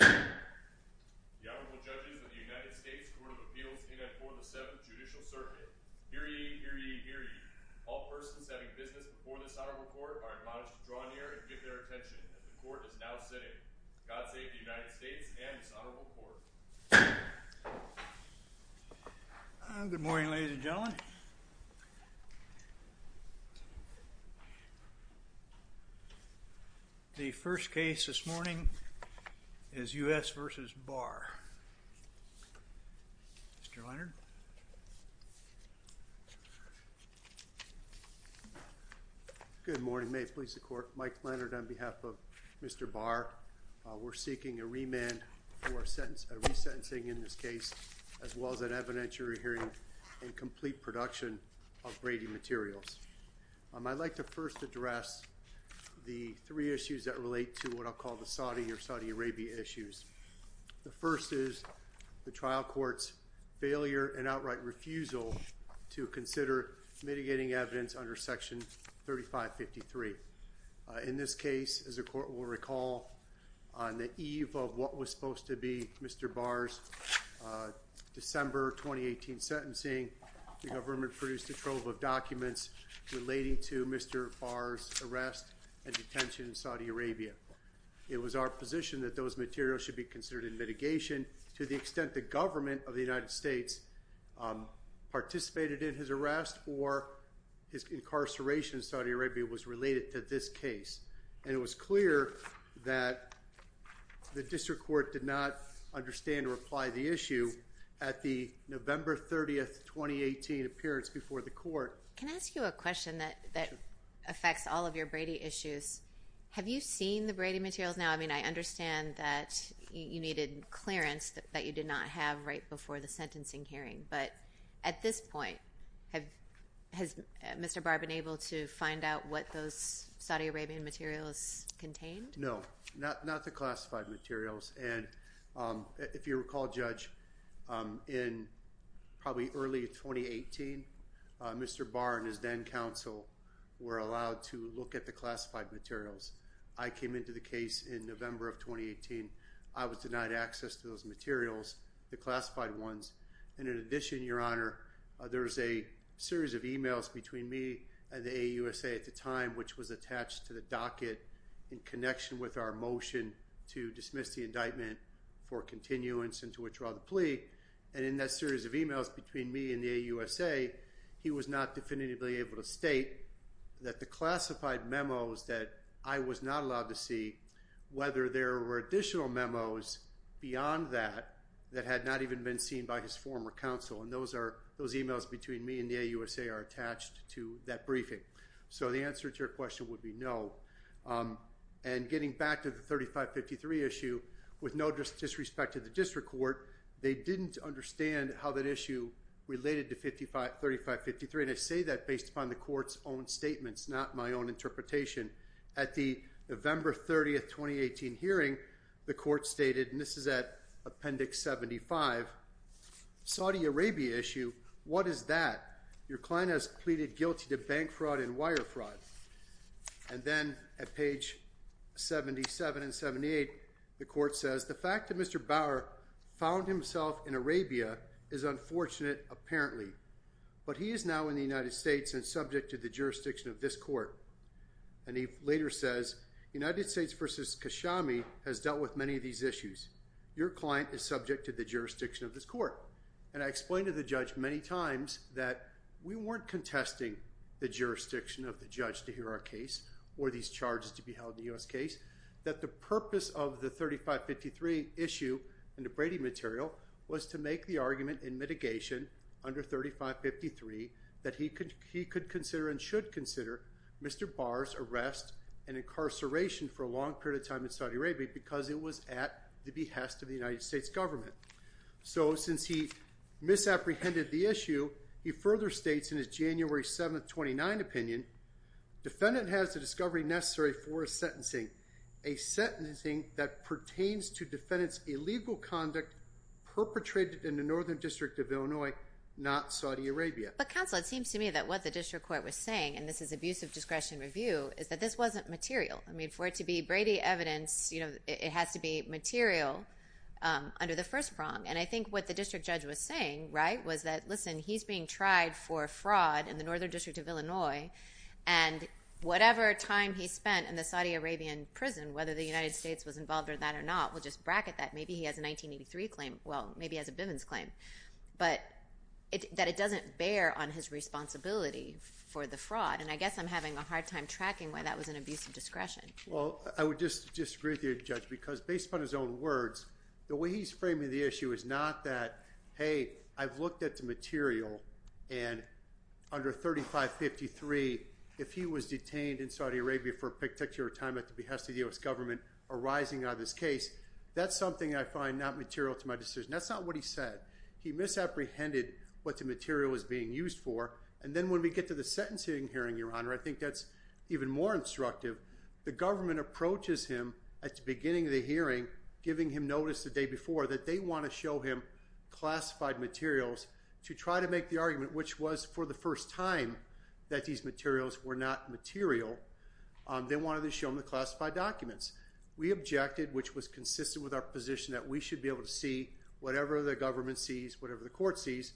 The Honorable Judges of the United States Court of Appeals in and for the Seventh Judicial Circuit. Hear ye, hear ye, hear ye. All persons having business before this Honorable Court are admonished to draw near and give their attention as the Court is now sitting. God save the United States and this Honorable Court. Good morning, ladies and gentlemen. The first case this morning is U.S. v. Barr. Mr. Leonard. Good morning, may it please the Court. Mike Leonard on behalf of Mr. Barr. We're seeking a remand for a resentencing in this case as well as an evidentiary hearing and complete production of Brady materials. I'd like to first address the three issues that relate to what I'll call the Saudi or Saudi Arabia issues. The first is the trial court's failure and outright refusal to consider mitigating evidence under Section 3553. In this case, as the Court will recall, on the eve of what was supposed to be Mr. Barr's December 2018 sentencing, the government produced a trove of documents relating to Mr. Barr's arrest and detention in Saudi Arabia. It was our position that those materials should be considered in mitigation to the extent the government of the United States participated in his arrest or his incarceration in Saudi Arabia was related to this case. And it was clear that the District Court did not understand or apply the issue at the November 30, 2018 appearance before the Court. Can I ask you a question that affects all of your Brady issues? Have you seen the Brady materials now? I mean, I understand that you needed clearance that you did not have right before the sentencing hearing. But at this point, has Mr. Barr been able to find out what those Saudi Arabian materials contained? No. Not the classified materials. And if you recall, Judge, in probably early 2018, Mr. Barr and his then-counsel were allowed to look at the classified materials. I came into the case in November of 2018. I was denied access to those materials, the classified ones. And in addition, Your Honor, there was a series of emails between me and the AUSA at the time, which was attached to the docket in connection with our motion to dismiss the indictment for continuance and to withdraw the plea. And in that series of emails between me and the AUSA, he was not definitively able to state that the classified memos that I was not allowed to see, whether there were additional memos beyond that that had not even been seen by his former counsel. And those emails between me and the AUSA are attached to that briefing. So the answer to your question would be no. And getting back to the 3553 issue, with no disrespect to the district court, they didn't understand how that issue related to 3553. And I say that based upon the court's own statements, not my own interpretation. At the November 30, 2018 hearing, the court stated, and this is at Appendix 75, Saudi Arabia issue, what is that? Your client has pleaded guilty to bank fraud and wire fraud. And then at page 77 and 78, the court says, the fact that Mr. Bauer found himself in Arabia is unfortunate, apparently. But he is now in the United States and subject to the jurisdiction of this court. And he later says, United States versus Kashami has dealt with many of these issues. Your client is subject to the jurisdiction of this court. And I explained to the judge many times that we weren't contesting the jurisdiction of the judge to hear our case or these charges to be held in the U.S. case, that the purpose of the 3553 issue in the Brady material was to make the argument in mitigation under 3553 that he could consider and should consider Mr. Bauer's arrest and incarceration for a long period of time in Saudi Arabia because it was at the behest of the United States government. So since he misapprehended the issue, he further states in his January 7, 2019 opinion, defendant has the discovery necessary for a sentencing, a sentencing that pertains to defendant's illegal conduct perpetrated in the Northern District of Illinois, not Saudi Arabia. But counsel, it seems to me that what the district court was saying, and this is abuse of discretion review, is that this wasn't material. I mean, for it to be Brady evidence, you know, it has to be material under the first prong. And I think what the district judge was saying, right, was that, listen, he's being tried for fraud in the Northern District of Illinois, and whatever time he spent in the Saudi Arabian prison, whether the United States was involved in that or not, we'll just bracket that. Maybe he has a 1983 claim, well, maybe he has a Bivens claim, but that it doesn't bear on his responsibility for the fraud. And I guess I'm having a hard time tracking why that was an abuse of discretion. Well, I would just disagree with you, Judge, because based upon his own words, the way he's framing the issue is not that, hey, I've looked at the material, and under 3553, if he was detained in Saudi Arabia for a particular time at the behest of the U.S. government arising out of this case, that's something I find not material to my decision. That's not what he said. He misapprehended what the material was being used for. And then when we get to the sentencing hearing, Your Honor, I think that's even more instructive. The government approaches him at the beginning of the hearing, giving him notice the day before that they want to show him classified materials to try to make the argument, which was, for the first time, that these materials were not material. They wanted to show him the classified documents. We objected, which was consistent with our position that we should be able to see whatever the government sees, whatever the court sees.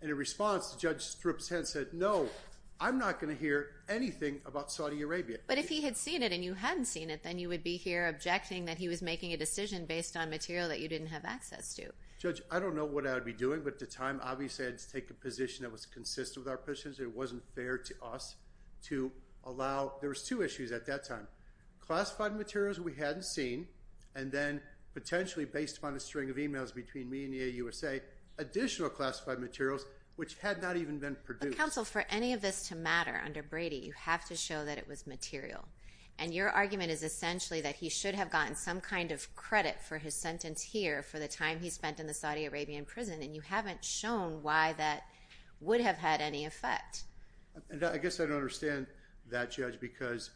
And in response, Judge Strips-Hentz said, no, I'm not going to hear anything about Saudi Arabia. But if he had seen it and you hadn't seen it, then you would be here objecting that he was making a decision based on material that you didn't have access to. Judge, I don't know what I would be doing, but at the time, obviously, I had to take a position that was consistent with our positions. It wasn't fair to us to allow—there was two issues at that time. Classified materials we hadn't seen, and then potentially, based upon a string of emails between me and the AUSA, additional classified materials, which had not even been produced. Counsel, for any of this to matter under Brady, you have to show that it was material. And your argument is essentially that he should have gotten some kind of credit for his sentence here for the time he spent in the Saudi Arabian prison, and you haven't shown why that would have had any effect. And I guess I don't understand that, Judge, because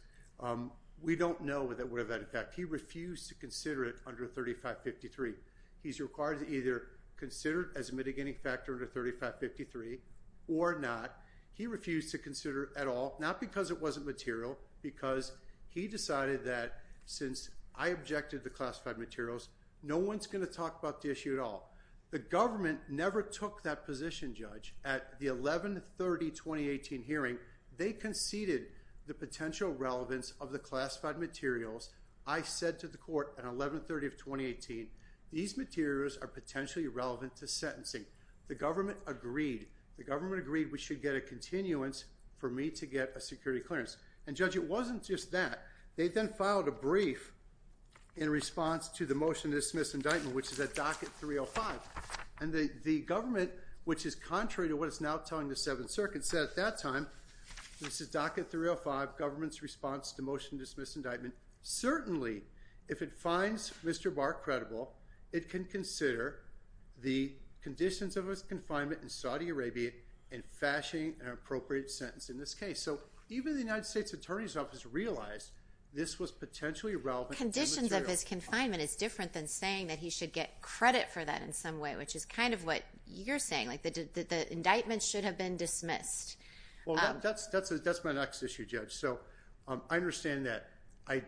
we don't know that it would have had an effect. He refused to consider it under 3553. He's required to either consider it as a mitigating factor under 3553 or not. He refused to consider it at all, not because it wasn't material, because he decided that since I objected to classified materials, no one's going to talk about the issue at all. The government never took that position, Judge. At the 11-30-2018 hearing, they conceded the potential relevance of the classified materials. I said to the court at 11-30-2018, these materials are potentially relevant to sentencing. The government agreed. The government agreed we should get a continuance for me to get a security clearance. And Judge, it wasn't just that. They then filed a brief in response to the motion to dismiss indictment, which is at docket 305. And the government, which is contrary to what it's now telling the Seventh Circuit, said at that time, this is docket 305, government's response to the motion to dismiss indictment. Certainly, if it finds Mr. Barr credible, it can consider the conditions of his confinement in Saudi Arabia in fashioning an appropriate sentence in this case. So even the United States Attorney's Office realized this was potentially relevant. Conditions of his confinement is different than saying that he should get credit for that in some way, which is kind of what you're saying, like the indictment should have been dismissed. Well, that's my next issue, Judge. So I understand that. I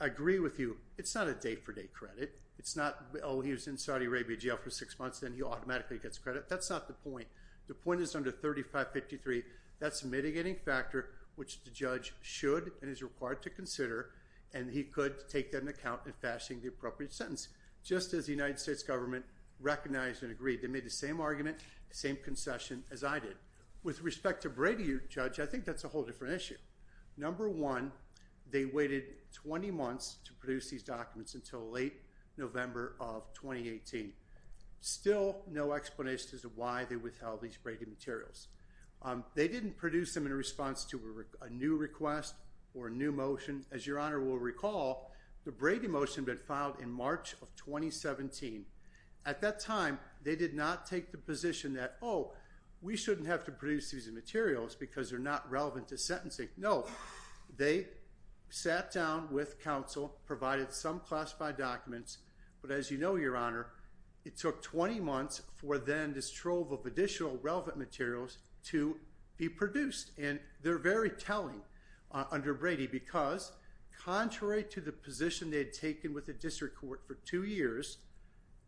agree with you. It's not a day-for-day credit. It's not, oh, he was in Saudi Arabia jail for six months, then he automatically gets credit. That's not the point. The point is under 3553, that's a mitigating factor, which the judge should and is required to consider, and he could take that into account in fashioning the appropriate sentence. Just as the United States government recognized and agreed, they made the same argument, the same concession as I did. With respect to Brady, Judge, I think that's a whole different issue. Number one, they waited 20 months to produce these documents until late November of 2018. Still no explanation as to why they withheld these Brady materials. They didn't produce them in response to a new request or a new motion. As Your Honor will recall, the Brady motion had been filed in March of 2017. At that time, they did not take the position that, oh, we shouldn't have to produce these materials because they're not relevant to sentencing. No. They sat down with counsel, provided some classified documents, but as you know, Your Honor, it took 20 months for then this trove of additional relevant materials to be produced. And they're very telling under Brady because contrary to the position they had taken with the district court for two years,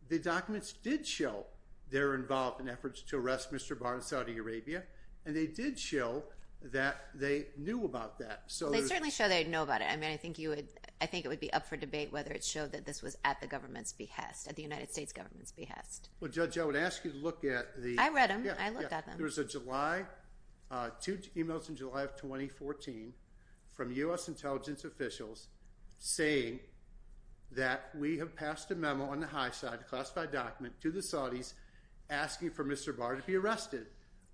the documents did show they're involved in efforts to arrest Mr. Barr in Saudi Arabia, and they did show that they knew about that. So there's- They certainly show they know about it. I mean, I think it would be up for debate whether it showed that this was at the government's behest, at the United States government's behest. Well, Judge, I would ask you to look at the- I read them. I looked at them. I believe there was a July- two emails in July of 2014 from U.S. intelligence officials saying that we have passed a memo on the high side, a classified document, to the Saudis asking for Mr. Barr to be arrested.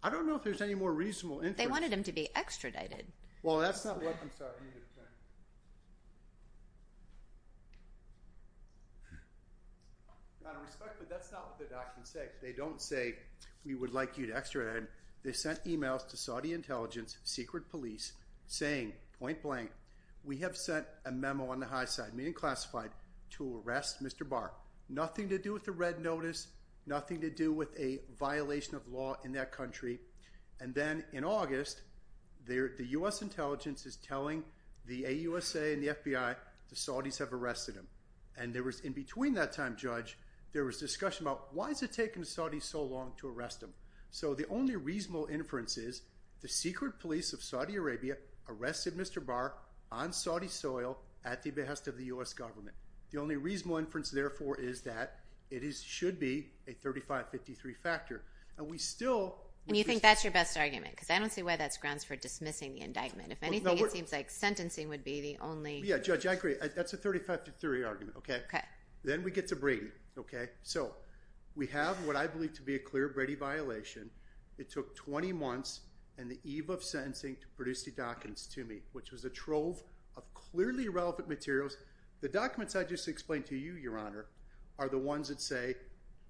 I don't know if there's any more reasonable inference- They wanted him to be extradited. Well, that's not what- I'm sorry. Let me get a pen. Out of respect, but that's not what the documents say because they don't say we would like you to be extradited. They sent emails to Saudi intelligence, secret police, saying point blank, we have sent a memo on the high side, meaning classified, to arrest Mr. Barr. Nothing to do with the red notice, nothing to do with a violation of law in that country. And then in August, the U.S. intelligence is telling the AUSA and the FBI the Saudis have arrested him. And there was- in between that time, Judge, there was discussion about why is it taking the Saudis so long to arrest him? So the only reasonable inference is the secret police of Saudi Arabia arrested Mr. Barr on Saudi soil at the behest of the U.S. government. The only reasonable inference, therefore, is that it should be a 35-53 factor. And we still- And you think that's your best argument because I don't see why that's grounds for dismissing the indictment. If anything, it seems like sentencing would be the only- Yeah, Judge, I agree. That's a 35-53 argument, okay? Okay. Then we get to Brady, okay? So we have what I believe to be a clear Brady violation. It took 20 months and the eve of sentencing to produce the documents to me, which was a trove of clearly relevant materials. The documents I just explained to you, Your Honor, are the ones that say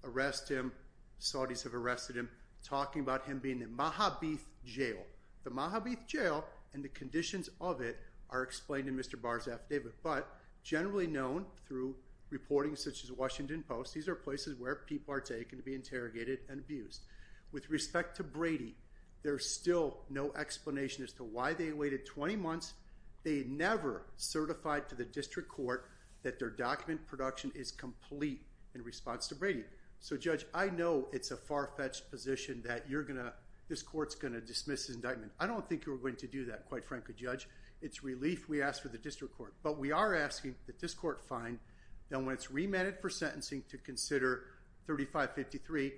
arrest him, Saudis have arrested him, talking about him being in Mahabith Jail. The Mahabith Jail and the conditions of it are explained in Mr. Barr's affidavit, but they're places where people are taken to be interrogated and abused. With respect to Brady, there's still no explanation as to why they waited 20 months. They never certified to the district court that their document production is complete in response to Brady. So Judge, I know it's a far-fetched position that you're going to- this court's going to dismiss his indictment. I don't think you were going to do that, quite frankly, Judge. It's relief we asked for the district court. But we are asking that this court find that when it's remanded for sentencing to consider 3553,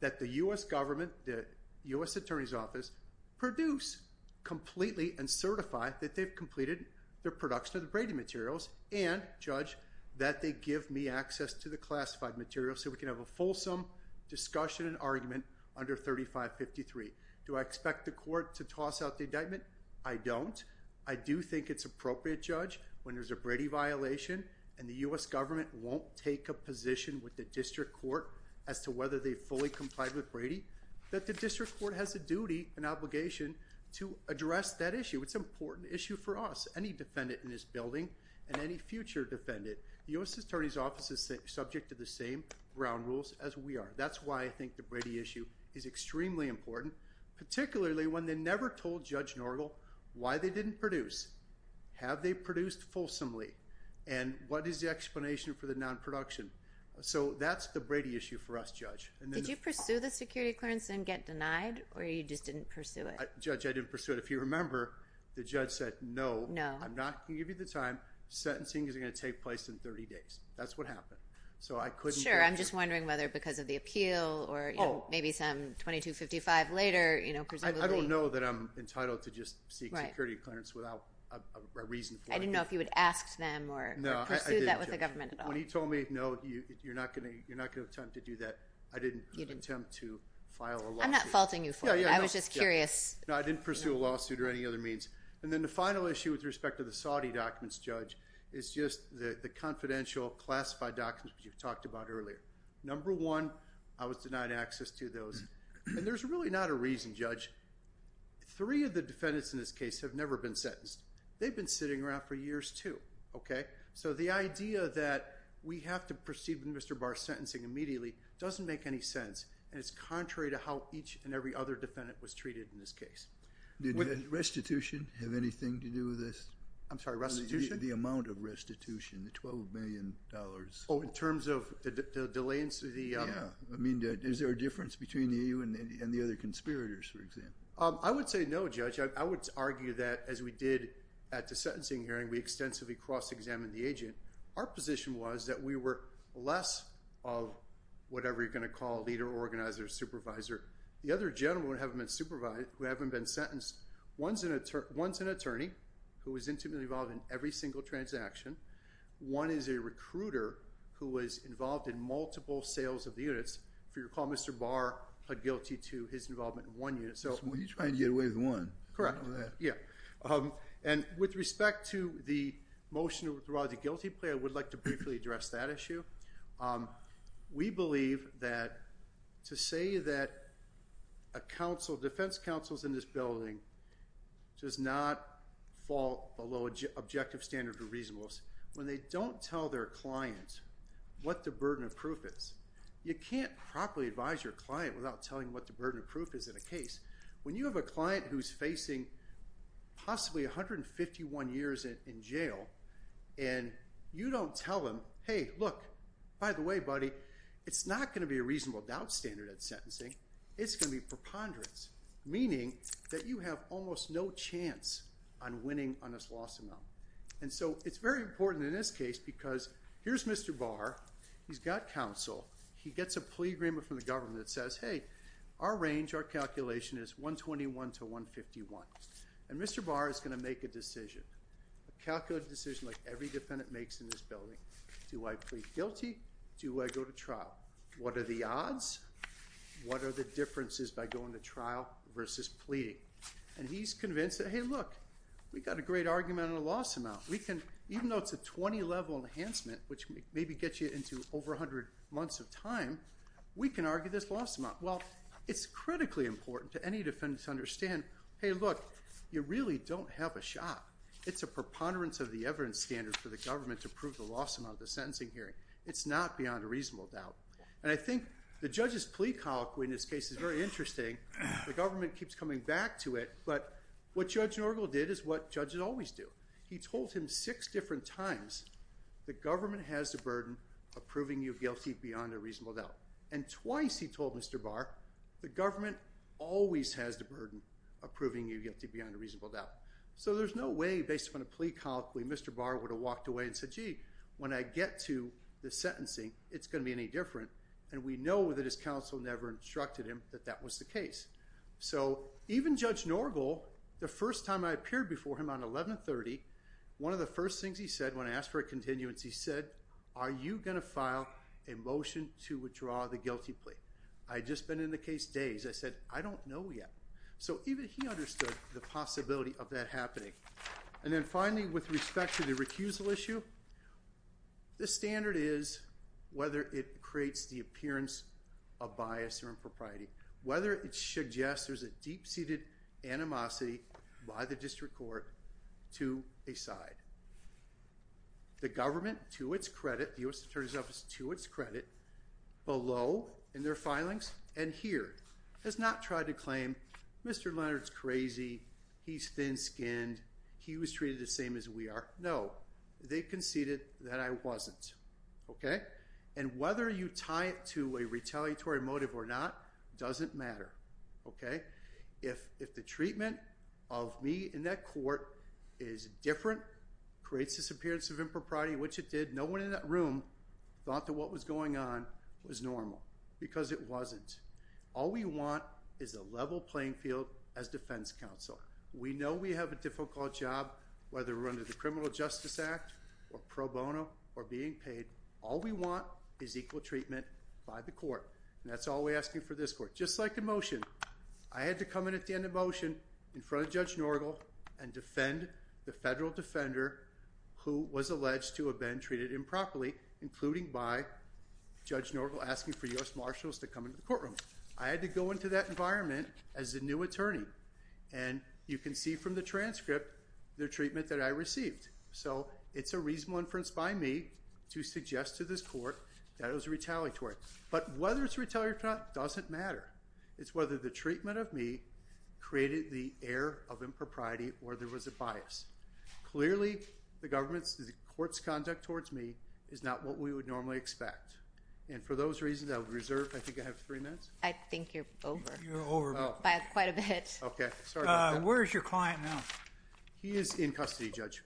that the U.S. government, the U.S. Attorney's Office, produce completely and certify that they've completed their production of the Brady materials and, Judge, that they give me access to the classified materials so we can have a fulsome discussion and argument under 3553. Do I expect the court to toss out the indictment? I don't. I do think it's appropriate, Judge, when there's a Brady violation and the U.S. government won't take a position with the district court as to whether they fully complied with Brady, that the district court has a duty and obligation to address that issue. It's an important issue for us, any defendant in this building, and any future defendant. The U.S. Attorney's Office is subject to the same ground rules as we are. That's why I think the Brady issue is extremely important, particularly when they never told Judge Norgel why they didn't produce, have they produced fulsomely, and what is the explanation for the non-production. So that's the Brady issue for us, Judge. Did you pursue the security clearance and get denied, or you just didn't pursue it? Judge, I didn't pursue it. If you remember, the judge said, no, I'm not going to give you the time. Sentencing isn't going to take place in 30 days. That's what happened. So I couldn't pursue it. Sure. I'm just wondering whether because of the appeal or maybe some 2255 later, you know, presumably. I don't know that I'm entitled to just seek security clearance without a reason for it. I didn't know if you would ask them or pursue that with the government at all. No, I didn't, Judge. When he told me, no, you're not going to attempt to do that, I didn't attempt to file a lawsuit. I'm not faulting you for it. I was just curious. No, I didn't pursue a lawsuit or any other means. And then the final issue with respect to the Saudi documents, Judge, is just the confidential classified documents that you've talked about earlier. Number one, I was denied access to those. And there's really not a reason, Judge. Three of the defendants in this case have never been sentenced. They've been sitting around for years, too. OK, so the idea that we have to proceed with Mr. Barr's sentencing immediately doesn't make any sense. And it's contrary to how each and every other defendant was treated in this case. Did restitution have anything to do with this? I'm sorry, restitution? The amount of restitution, the $12 million. Oh, in terms of the delay in the. I mean, is there a difference between you and the other conspirators, for example? I would say no, Judge. I would argue that, as we did at the sentencing hearing, we extensively cross-examined the agent. Our position was that we were less of whatever you're going to call leader, organizer, supervisor. The other gentlemen who haven't been sentenced, one's an attorney who was intimately involved in every single transaction. One is a recruiter who was involved in multiple sales of the units. If you recall, Mr. Barr pled guilty to his involvement in one unit. So he's trying to get away with one. Correct. Yeah. And with respect to the motion to withdraw the guilty plea, I would like to briefly address that issue. We believe that to say that a defense counsel is in this building does not fall below objective standards of reasonableness when they don't tell their client what the burden of proof is. You can't properly advise your client without telling what the burden of proof is in a case. When you have a client who's facing possibly 151 years in jail, and you don't tell them, hey, look, by the way, buddy, it's not going to be a reasonable doubt standard at sentencing. It's going to be preponderance, meaning that you have almost no chance on winning on this lawsuit. And so it's very important in this case, because here's Mr. Barr. He's got counsel. He gets a plea agreement from the government that says, hey, our range, our calculation is 121 to 151. And Mr. Barr is going to make a decision, a calculated decision like every defendant makes in this building. Do I plead guilty? Do I go to trial? What are the odds? What are the differences by going to trial versus pleading? And he's convinced that, hey, look, we've got a great argument on a loss amount. We can, even though it's a 20-level enhancement, which maybe gets you into over 100 months of time, we can argue this loss amount. Well, it's critically important to any defendant to understand, hey, look, you really don't have a shot. It's a preponderance of the evidence standard for the government to prove the loss amount of the sentencing hearing. It's not beyond a reasonable doubt. And I think the judge's plea colloquy in this case is very interesting. The government keeps coming back to it, but what Judge Norgal did is what judges always do. He told him six different times, the government has the burden of proving you guilty beyond a reasonable doubt. And twice he told Mr. Barr, the government always has the burden of proving you guilty beyond a reasonable doubt. So there's no way, based upon a plea colloquy, Mr. Barr would have walked away and said, gee, when I get to the sentencing, it's going to be any different. And we know that his counsel never instructed him that that was the case. So even Judge Norgal, the first time I appeared before him on 1130, one of the first things he said when I asked for a continuance, he said, are you going to file a motion to withdraw the guilty plea? I had just been in the case days. I said, I don't know yet. So even he understood the possibility of that happening. And then finally, with respect to the recusal issue, the standard is whether it creates the appearance of bias or impropriety, whether it suggests there's a deep-seated animosity by the district court to a side. The government, to its credit, the U.S. Attorney's Office, to its credit, below in their filings and here, has not tried to claim, Mr. Leonard's crazy, he's thin-skinned, he was treated the same as we are. No. They conceded that I wasn't, okay? And whether you tie it to a retaliatory motive or not doesn't matter, okay? If the treatment of me in that court is different, creates this appearance of impropriety, which it did. Did no one in that room thought that what was going on was normal? Because it wasn't. All we want is a level playing field as defense counsel. We know we have a difficult job, whether we're under the Criminal Justice Act or pro bono or being paid. All we want is equal treatment by the court, and that's all we're asking for this court. Just like in motion, I had to come in at the end of motion in front of Judge Norgal and defend the federal defender who was alleged to have been treated improperly, including by Judge Norgal asking for U.S. Marshals to come into the courtroom. I had to go into that environment as the new attorney, and you can see from the transcript the treatment that I received. So it's a reasonable inference by me to suggest to this court that it was retaliatory. But whether it's retaliatory or not doesn't matter. It's whether the treatment of me created the air of impropriety or there was a bias. Clearly, the government's, the court's conduct towards me is not what we would normally expect. And for those reasons, I would reserve, I think I have three minutes? I think you're over. You're over. By quite a bit. Okay. Sorry about that. Where is your client now? He is in custody, Judge.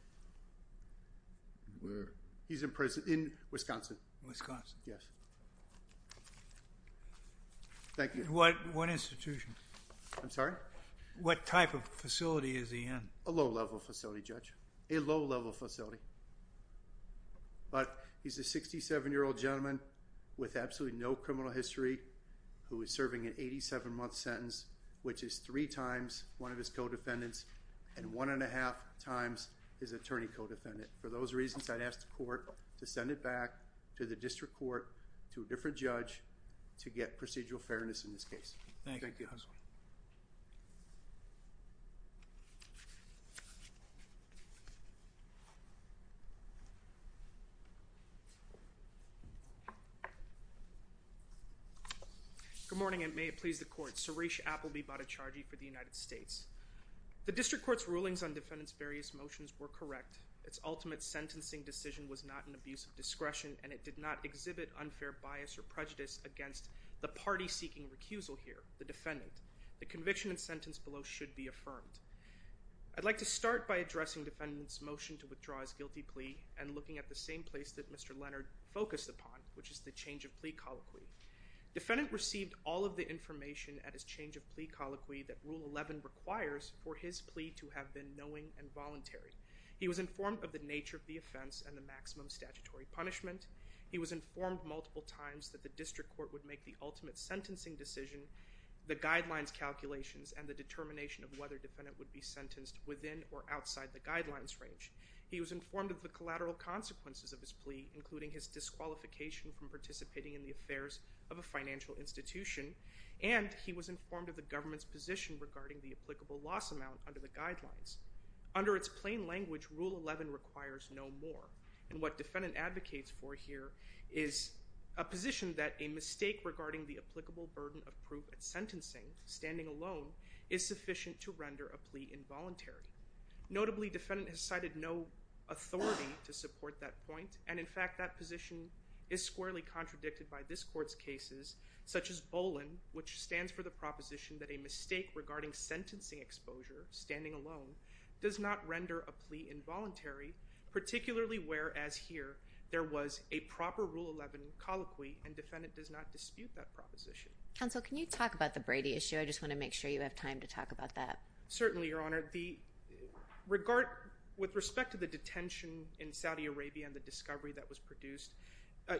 Where? He's in Wisconsin. Wisconsin. Yes. Thank you. What institution? I'm sorry? What type of facility is he in? A low-level facility, Judge. A low-level facility. But he's a 67-year-old gentleman with absolutely no criminal history who is serving an 87-month sentence, which is three times one of his co-defendants and one and a half times his attorney co-defendant. For those reasons, I'd ask the court to send it back to the district court to a different judge to get procedural fairness in this case. Thank you. Thank you. Good morning, and may it please the court. Suresh Appleby, body chargee for the United States. The district court's rulings on defendant's various motions were correct. Its ultimate sentencing decision was not an abuse of discretion, and it did not exhibit unfair bias or prejudice against the party seeking recusal here, the defendant. The conviction and sentence below should be affirmed. I'd like to start by addressing defendant's motion to withdraw his guilty plea and looking at the same place that Mr. Leonard focused upon, which is the change of plea colloquy. Defendant received all of the information at his change of plea colloquy that Rule 11 requires for his plea to have been knowing and voluntary. He was informed of the nature of the offense and the maximum statutory punishment. He was informed multiple times that the district court would make the ultimate sentencing decision, the guidelines calculations, and the determination of whether defendant would be sentenced within or outside the guidelines range. He was informed of the collateral consequences of his plea, including his disqualification from participating in the affairs of a financial institution, and he was informed of the government's position regarding the applicable loss amount under the guidelines. Under its plain language, Rule 11 requires no more, and what defendant advocates for here is a position that a mistake regarding the applicable burden of proof at sentencing, standing alone, is sufficient to render a plea involuntary. Notably, defendant has cited no authority to support that point, and in fact that position is squarely contradicted by this court's cases, such as Bolin, which stands for the proposition that a mistake regarding sentencing exposure, standing alone, does not render a plea involuntary, particularly whereas here there was a proper Rule 11 colloquy and defendant does not dispute that proposition. Counsel, can you talk about the Brady issue? I just want to make sure you have time to talk about that. Certainly, Your Honor. With respect to the detention in Saudi Arabia and the discovery that was produced,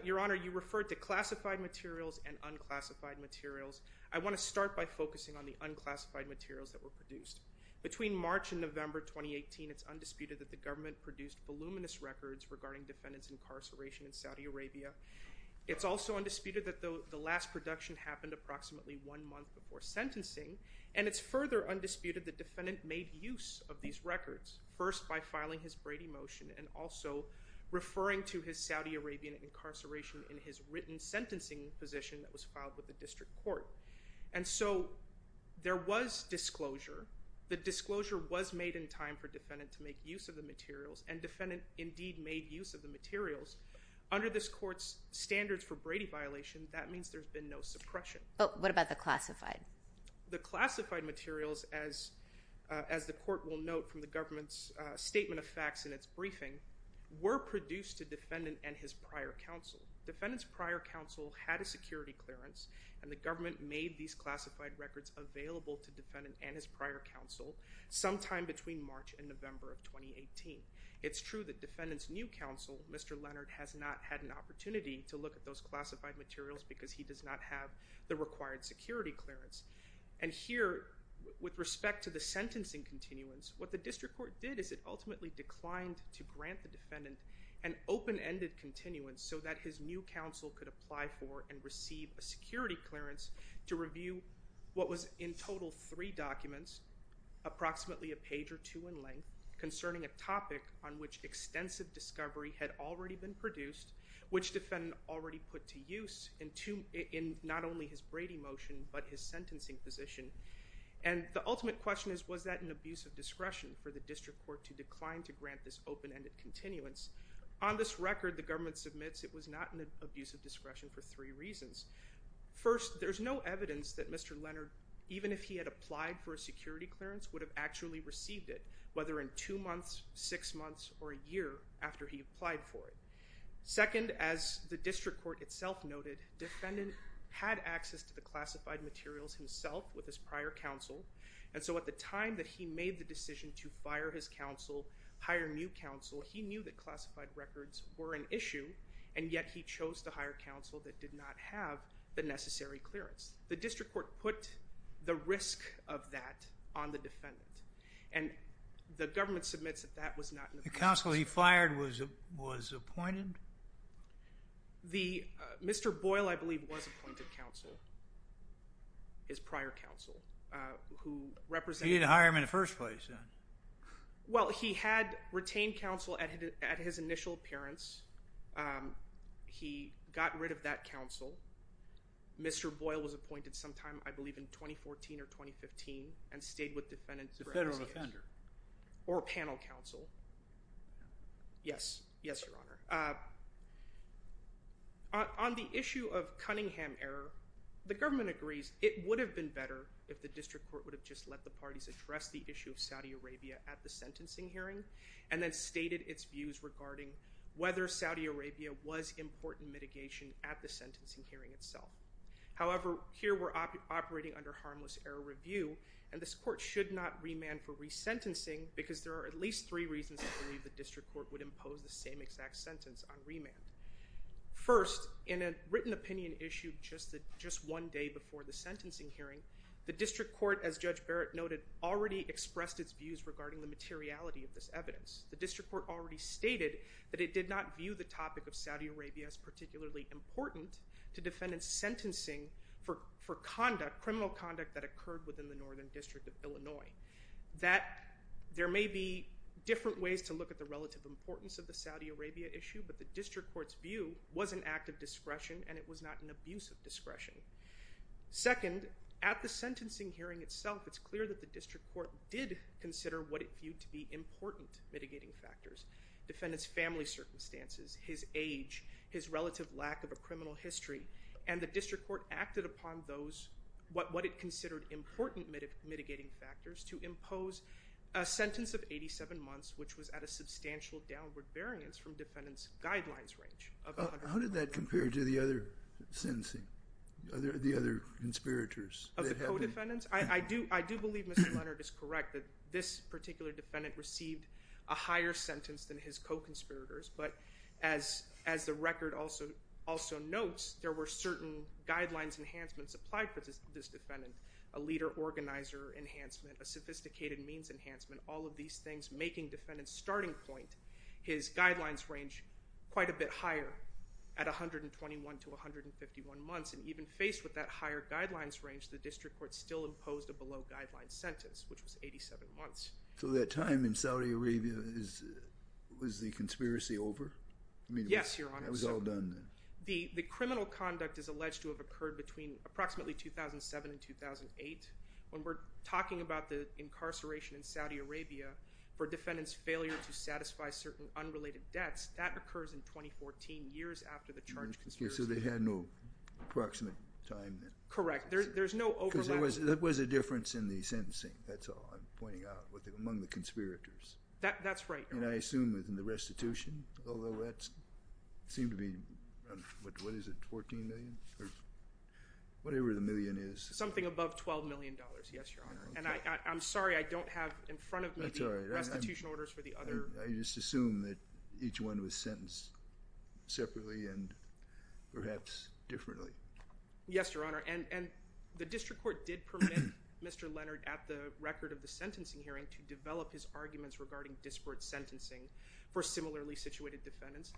Your Honor, you referred to classified materials and unclassified materials. I want to start by focusing on the unclassified materials that were produced. Between March and November 2018, it's undisputed that the government produced voluminous records regarding defendant's incarceration in Saudi Arabia. It's also undisputed that the last production happened approximately one month before sentencing, and it's further undisputed that defendant made use of these records, first by filing his Brady motion and also referring to his Saudi Arabian incarceration in his written sentencing position that was filed with the district court. And so there was disclosure. The disclosure was made in time for defendant to make use of the materials, and defendant indeed made use of the materials. Under this court's standards for Brady violation, that means there's been no suppression. But what about the classified? The classified materials, as the court will note from the government's statement of facts in its briefing, were produced to defendant and his prior counsel. Defendant's prior counsel had a security clearance, and the government made these classified records available to defendant and his prior counsel sometime between March and November of 2018. It's true that defendant's new counsel, Mr. Leonard, has not had an opportunity to look at those classified materials because he does not have the required security clearance. And here, with respect to the sentencing continuance, what the district court did is it ultimately declined to grant the defendant an open-ended continuance so that his new counsel could apply for and receive a security clearance to review what was in total three documents, approximately a page or two in length, concerning a topic on which extensive discovery had already been produced, which defendant already put to use in not only his Brady motion but his sentencing position. And the ultimate question is, was that an abuse of discretion for the district court to decline to grant this open-ended continuance? On this record, the government submits it was not an abuse of discretion for three reasons. First, there's no evidence that Mr. Leonard, even if he had applied for a security clearance, would have actually received it, whether in two months, six months, or a year after he applied for it. Second, as the district court itself noted, defendant had access to the classified materials himself with his prior counsel, and so at the time that he made the decision to fire his counsel, hire new counsel, he knew that classified records were an issue, and yet he chose to hire counsel that did not have the necessary clearance. The district court put the risk of that on the defendant, and the government submits that that was not an abuse of discretion. The counsel he fired was appointed? Mr. Boyle, I believe, was appointed counsel, his prior counsel, who represented him. He didn't hire him in the first place, then. Well, he had retained counsel at his initial appearance. He got rid of that counsel. Mr. Boyle was appointed sometime, I believe, in 2014 or 2015, and stayed with defendants for a few years. The federal offender. Or panel counsel. Yes. Yes, Your Honor. On the issue of Cunningham error, the government agrees it would have been better if the district court would have just let the parties address the issue of Saudi Arabia at the sentencing hearing, and then stated its views regarding whether Saudi Arabia was important mitigation at the sentencing hearing itself. However, here we're operating under harmless error review, and this court should not remand for resentencing, because there are at least three reasons I believe the district court would impose the same exact sentence on remand. First, in a written opinion issued just one day before the sentencing hearing, the district court, as Judge Barrett noted, already expressed its views regarding the materiality of this evidence. The district court already stated that it did not view the topic of Saudi Arabia as particularly important to defendants' sentencing for criminal conduct that occurred within the Northern District of Illinois. There may be different ways to look at the relative importance of the Saudi Arabia issue, but the district court's view was an act of discretion, and it was not an abuse of discretion. Second, at the sentencing hearing itself, it's clear that the district court did consider what it viewed to be important mitigating factors, defendants' family circumstances, his age, his relative lack of a criminal history, and the district court acted upon those, what it considered important mitigating factors, to impose a sentence of 87 months, which was at a substantial downward variance from defendants' guidelines range. How did that compare to the other sentencing, the other conspirators? Of the co-defendants? I do believe Mr. Leonard is correct that this particular defendant received a higher sentence than his co-conspirators, but as the record also notes, there were certain guidelines enhancements applied for this defendant, a leader organizer enhancement, a sophisticated means enhancement, all of these things making defendants' starting point, his guidelines range, quite a bit higher at 121 to 151 months, and even faced with that higher guidelines range, the district court still imposed a below-guidelines sentence, which was 87 months. So that time in Saudi Arabia is, was the conspiracy over? Yes, Your Honor. It was all done then? The criminal conduct is alleged to have occurred between approximately 2007 and 2008. When we're talking about the incarceration in Saudi Arabia for defendants' failure to That occurs in 2014, years after the charged conspiracy. So they had no approximate time then? Correct. There's no overlap. Because there was a difference in the sentencing, that's all I'm pointing out, among the conspirators. That's right, Your Honor. And I assume within the restitution, although that seemed to be, what is it, $14 million? Whatever the million is. Something above $12 million, yes, Your Honor. And I'm sorry I don't have in front of me the restitution orders for the other. I just assume that each one was sentenced separately and perhaps differently. Yes, Your Honor. And the district court did permit Mr. Leonard at the record of the sentencing hearing to develop his arguments regarding disparate sentencing for similarly situated defendants.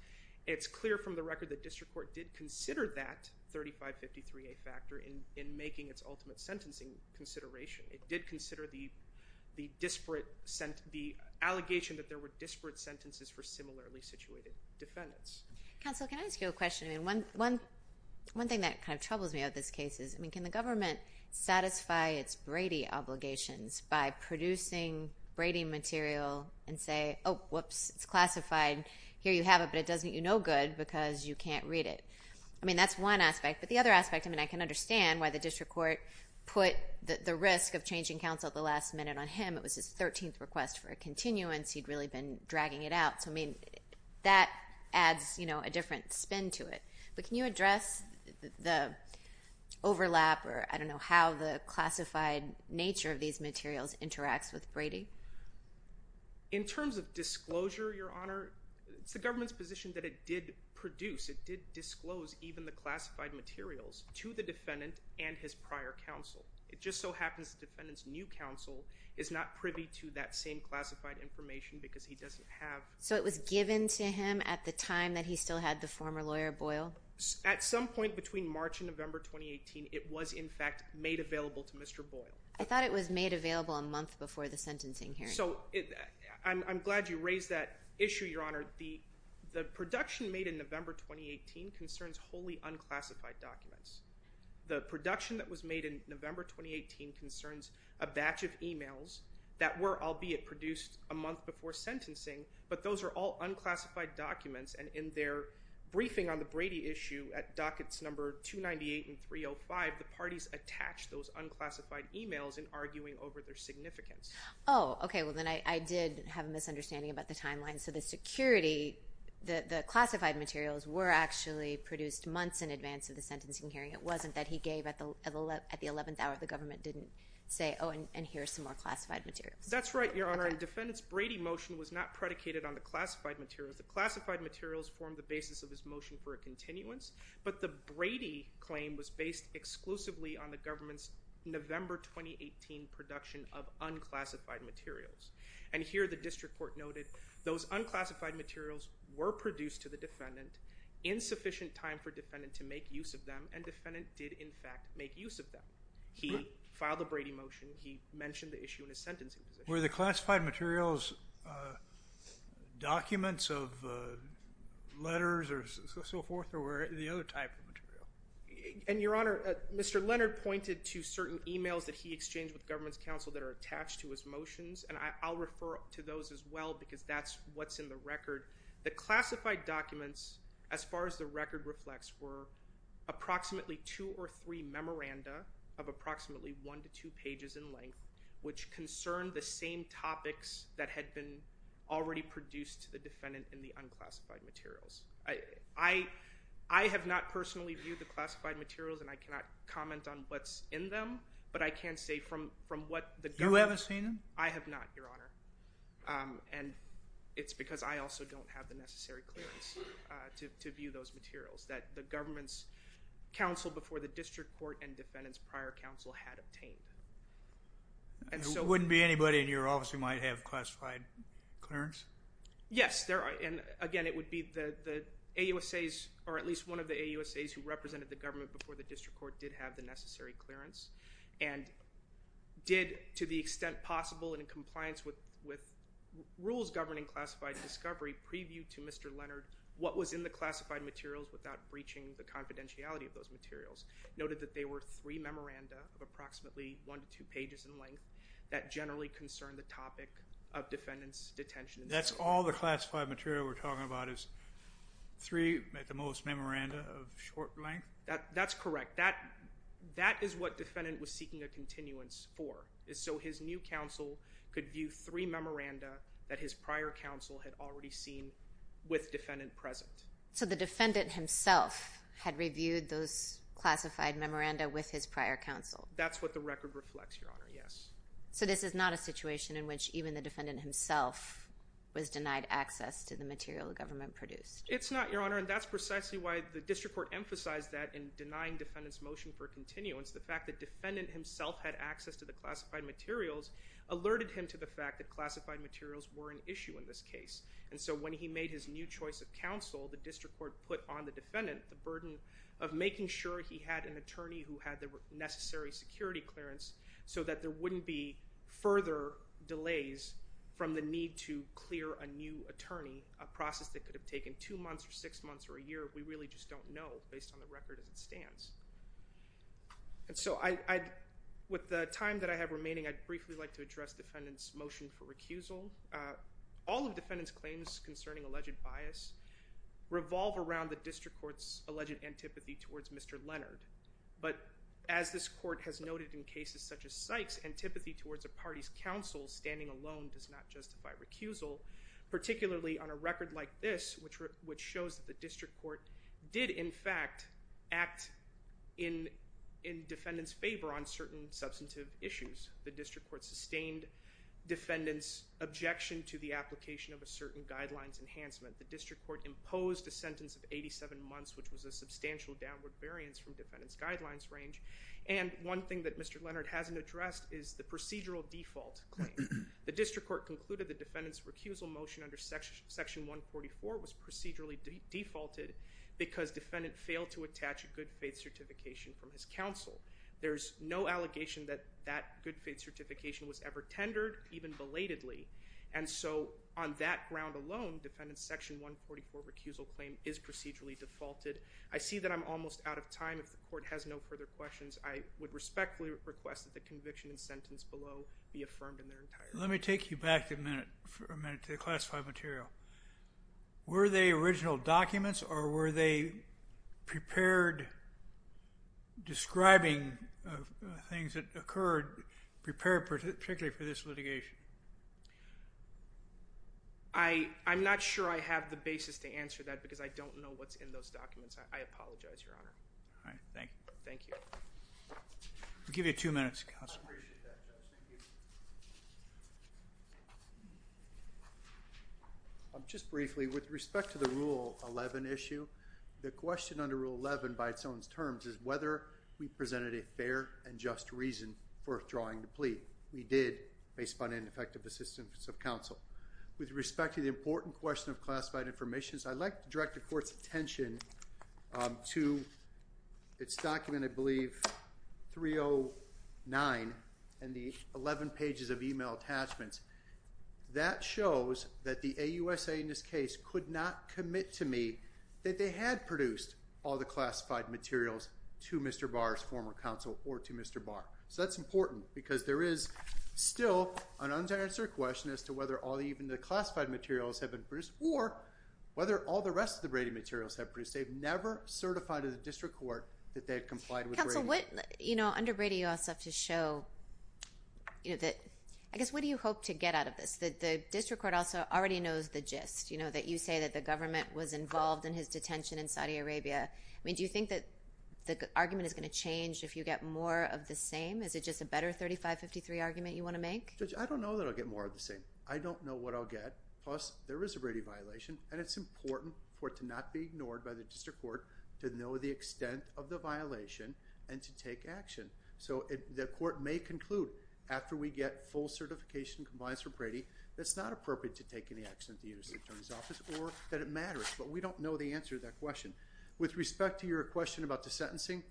It's clear from the record that district court did consider that 3553A factor in making its ultimate sentencing consideration. It did consider the disparate, the allegation that there were disparate sentences for similarly situated defendants. Counsel, can I ask you a question? I mean, one thing that kind of troubles me about this case is, I mean, can the government satisfy its Brady obligations by producing Brady material and say, oh, whoops, it's classified, here you have it, but it doesn't get you no good because you can't read it. I mean, that's one aspect, but the other aspect, I mean, I can understand why the district court put the risk of changing counsel at the last minute on him. It was his 13th request for a continuance. He'd really been dragging it out. So, I mean, that adds, you know, a different spin to it. But can you address the overlap or, I don't know, how the classified nature of these materials interacts with Brady? In terms of disclosure, Your Honor, it's the government's position that it did produce, it did disclose even the classified materials to the defendant and his prior counsel. It just so happens the defendant's new counsel is not privy to that same classified information because he doesn't have... So it was given to him at the time that he still had the former lawyer Boyle? At some point between March and November 2018, it was in fact made available to Mr. Boyle. I thought it was made available a month before the sentencing hearing. So I'm glad you raised that issue, Your Honor. The production made in November 2018 concerns wholly unclassified documents. The production that was made in November 2018 concerns a batch of emails that were, albeit produced a month before sentencing, but those are all unclassified documents. And in their briefing on the Brady issue at dockets number 298 and 305, the parties attached those unclassified emails in arguing over their significance. Oh, okay. Well, then I did have a misunderstanding about the timeline. And so the security, the classified materials were actually produced months in advance of the sentencing hearing. It wasn't that he gave at the 11th hour, the government didn't say, oh, and here's some more classified materials. That's right, Your Honor. The defendant's Brady motion was not predicated on the classified materials. The classified materials formed the basis of his motion for a continuance, but the Brady claim was based exclusively on the government's November 2018 production of unclassified materials. And here the district court noted those unclassified materials were produced to the defendant in sufficient time for defendant to make use of them, and defendant did in fact make use of them. He filed a Brady motion, he mentioned the issue in his sentencing position. Were the classified materials documents of letters or so forth, or were it the other type of material? And Your Honor, Mr. Leonard pointed to certain emails that he exchanged with government's counsel that are attached to his motions, and I'll refer to those as well because that's what's in the record. The classified documents, as far as the record reflects, were approximately two or three memoranda of approximately one to two pages in length, which concerned the same topics that had been already produced to the defendant in the unclassified materials. I have not personally viewed the classified materials, and I cannot comment on what's in them, but I can say from what the government... You haven't seen them? I have not, Your Honor. And it's because I also don't have the necessary clearance to view those materials that the government's counsel before the district court and defendant's prior counsel had obtained. There wouldn't be anybody in your office who might have classified clearance? Yes, there are. And again, it would be the AUSAs, or at least one of the AUSAs who represented the government before the district court did have the necessary clearance and did, to the extent possible and in compliance with rules governing classified discovery, preview to Mr. Leonard what was in the classified materials without breaching the confidentiality of those materials, noted that they were three memoranda of approximately one to two pages in length that generally concerned the topic of defendant's detention. That's all the classified material we're talking about is three, at the most, memoranda of short length? That's correct. That is what defendant was seeking a continuance for, is so his new counsel could view three memoranda that his prior counsel had already seen with defendant present. So the defendant himself had reviewed those classified memoranda with his prior counsel? That's what the record reflects, Your Honor, yes. So this is not a situation in which even the defendant himself was denied access to the material the government produced? It's not, Your Honor, and that's precisely why the district court emphasized that in denying defendant's motion for continuance, the fact that defendant himself had access to the classified materials alerted him to the fact that classified materials were an issue in this case. And so when he made his new choice of counsel, the district court put on the defendant the burden of making sure he had an attorney who had the necessary security clearance so that there wouldn't be further delays from the need to clear a new attorney, a process that could have taken two months or six months or a year. We really just don't know based on the record as it stands. And so with the time that I have remaining, I'd briefly like to address defendant's motion for recusal. All of defendant's claims concerning alleged bias revolve around the district court's alleged antipathy towards Mr. Leonard. But as this court has noted in cases such as Sykes, antipathy towards a party's counsel standing alone does not justify recusal, particularly on a record like this, which shows that the district court did in fact act in defendant's favor on certain substantive issues. The district court sustained defendant's objection to the application of a certain guidelines enhancement. The district court imposed a sentence of 87 months, which was a substantial downward variance from defendant's guidelines range. And one thing that Mr. Leonard hasn't addressed is the procedural default claim. The district court concluded the defendant's recusal motion under section 144 was procedurally defaulted because defendant failed to attach a good faith certification from his counsel. There's no allegation that that good faith certification was ever tendered, even belatedly. And so on that ground alone, defendant's section 144 recusal claim is procedurally defaulted. I see that I'm almost out of time. If the court has no further questions, I would respectfully request that the conviction and sentence below be affirmed in their entirety. Let me take you back a minute to the classified material. Were they original documents or were they prepared describing things that occurred prepared particularly for this litigation? I'm not sure I have the basis to answer that because I don't know what's in those documents. I apologize, Your Honor. All right. Thank you. Thank you. I'll give you two minutes, Counsel. I appreciate that, Judge. Thank you. Just briefly, with respect to the Rule 11 issue, the question under Rule 11 by its own terms is whether we presented a fair and just reason for withdrawing the plea. We did based upon ineffective assistance of counsel. With respect to the important question of classified information, I'd like to direct the court's attention to its document, I believe, 309 and the 11 pages of email attachments. That shows that the AUSA in this case could not commit to me that they had produced all the classified materials to Mr. Barr's former counsel or to Mr. Barr. That's important because there is still an unanswered question as to whether all even the classified materials have been produced or whether all the rest of the Brady materials have been produced. They've never certified in the district court that they've complied with Brady. Counsel, under Brady, you also have to show that... I guess, what do you hope to get out of this? The district court also already knows the gist, that you say that the government was involved in his detention in Saudi Arabia. Do you think that the argument is going to change if you get more of the same? Is it just a better 3553 argument you want to make? Judge, I don't know that I'll get more of the same. I don't know what I'll get. Plus, there is a Brady violation, and it's important for it to not be ignored by the district court to know the extent of the violation and to take action. So, the court may conclude after we get full certification compliance from Brady that it's not appropriate to take any action at the U.S. Attorney's Office or that it matters, but we don't know the answer to that question. With respect to your question about the sentencing,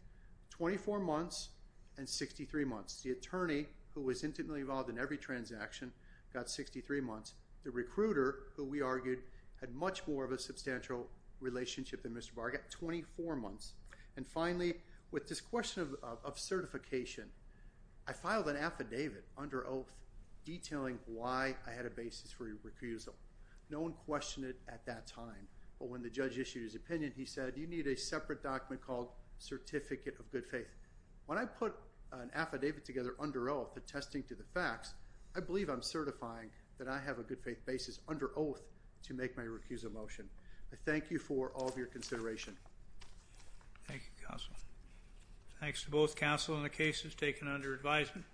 24 months and 63 months. The attorney, who was intimately involved in every transaction, got 63 months. The recruiter, who we argued had much more of a substantial relationship than Mr. Barr, got 24 months. And finally, with this question of certification, I filed an affidavit under oath detailing why I had a basis for a recusal. No one questioned it at that time, but when the judge issued his opinion, he said, you need a separate document called Certificate of Good Faith. When I put an affidavit together under oath attesting to the facts, I believe I'm certifying that I have a good faith basis under oath to make my recusal motion. I thank you for all of your consideration. Thank you, counsel. Thanks to both counsel and the cases taken under advisement.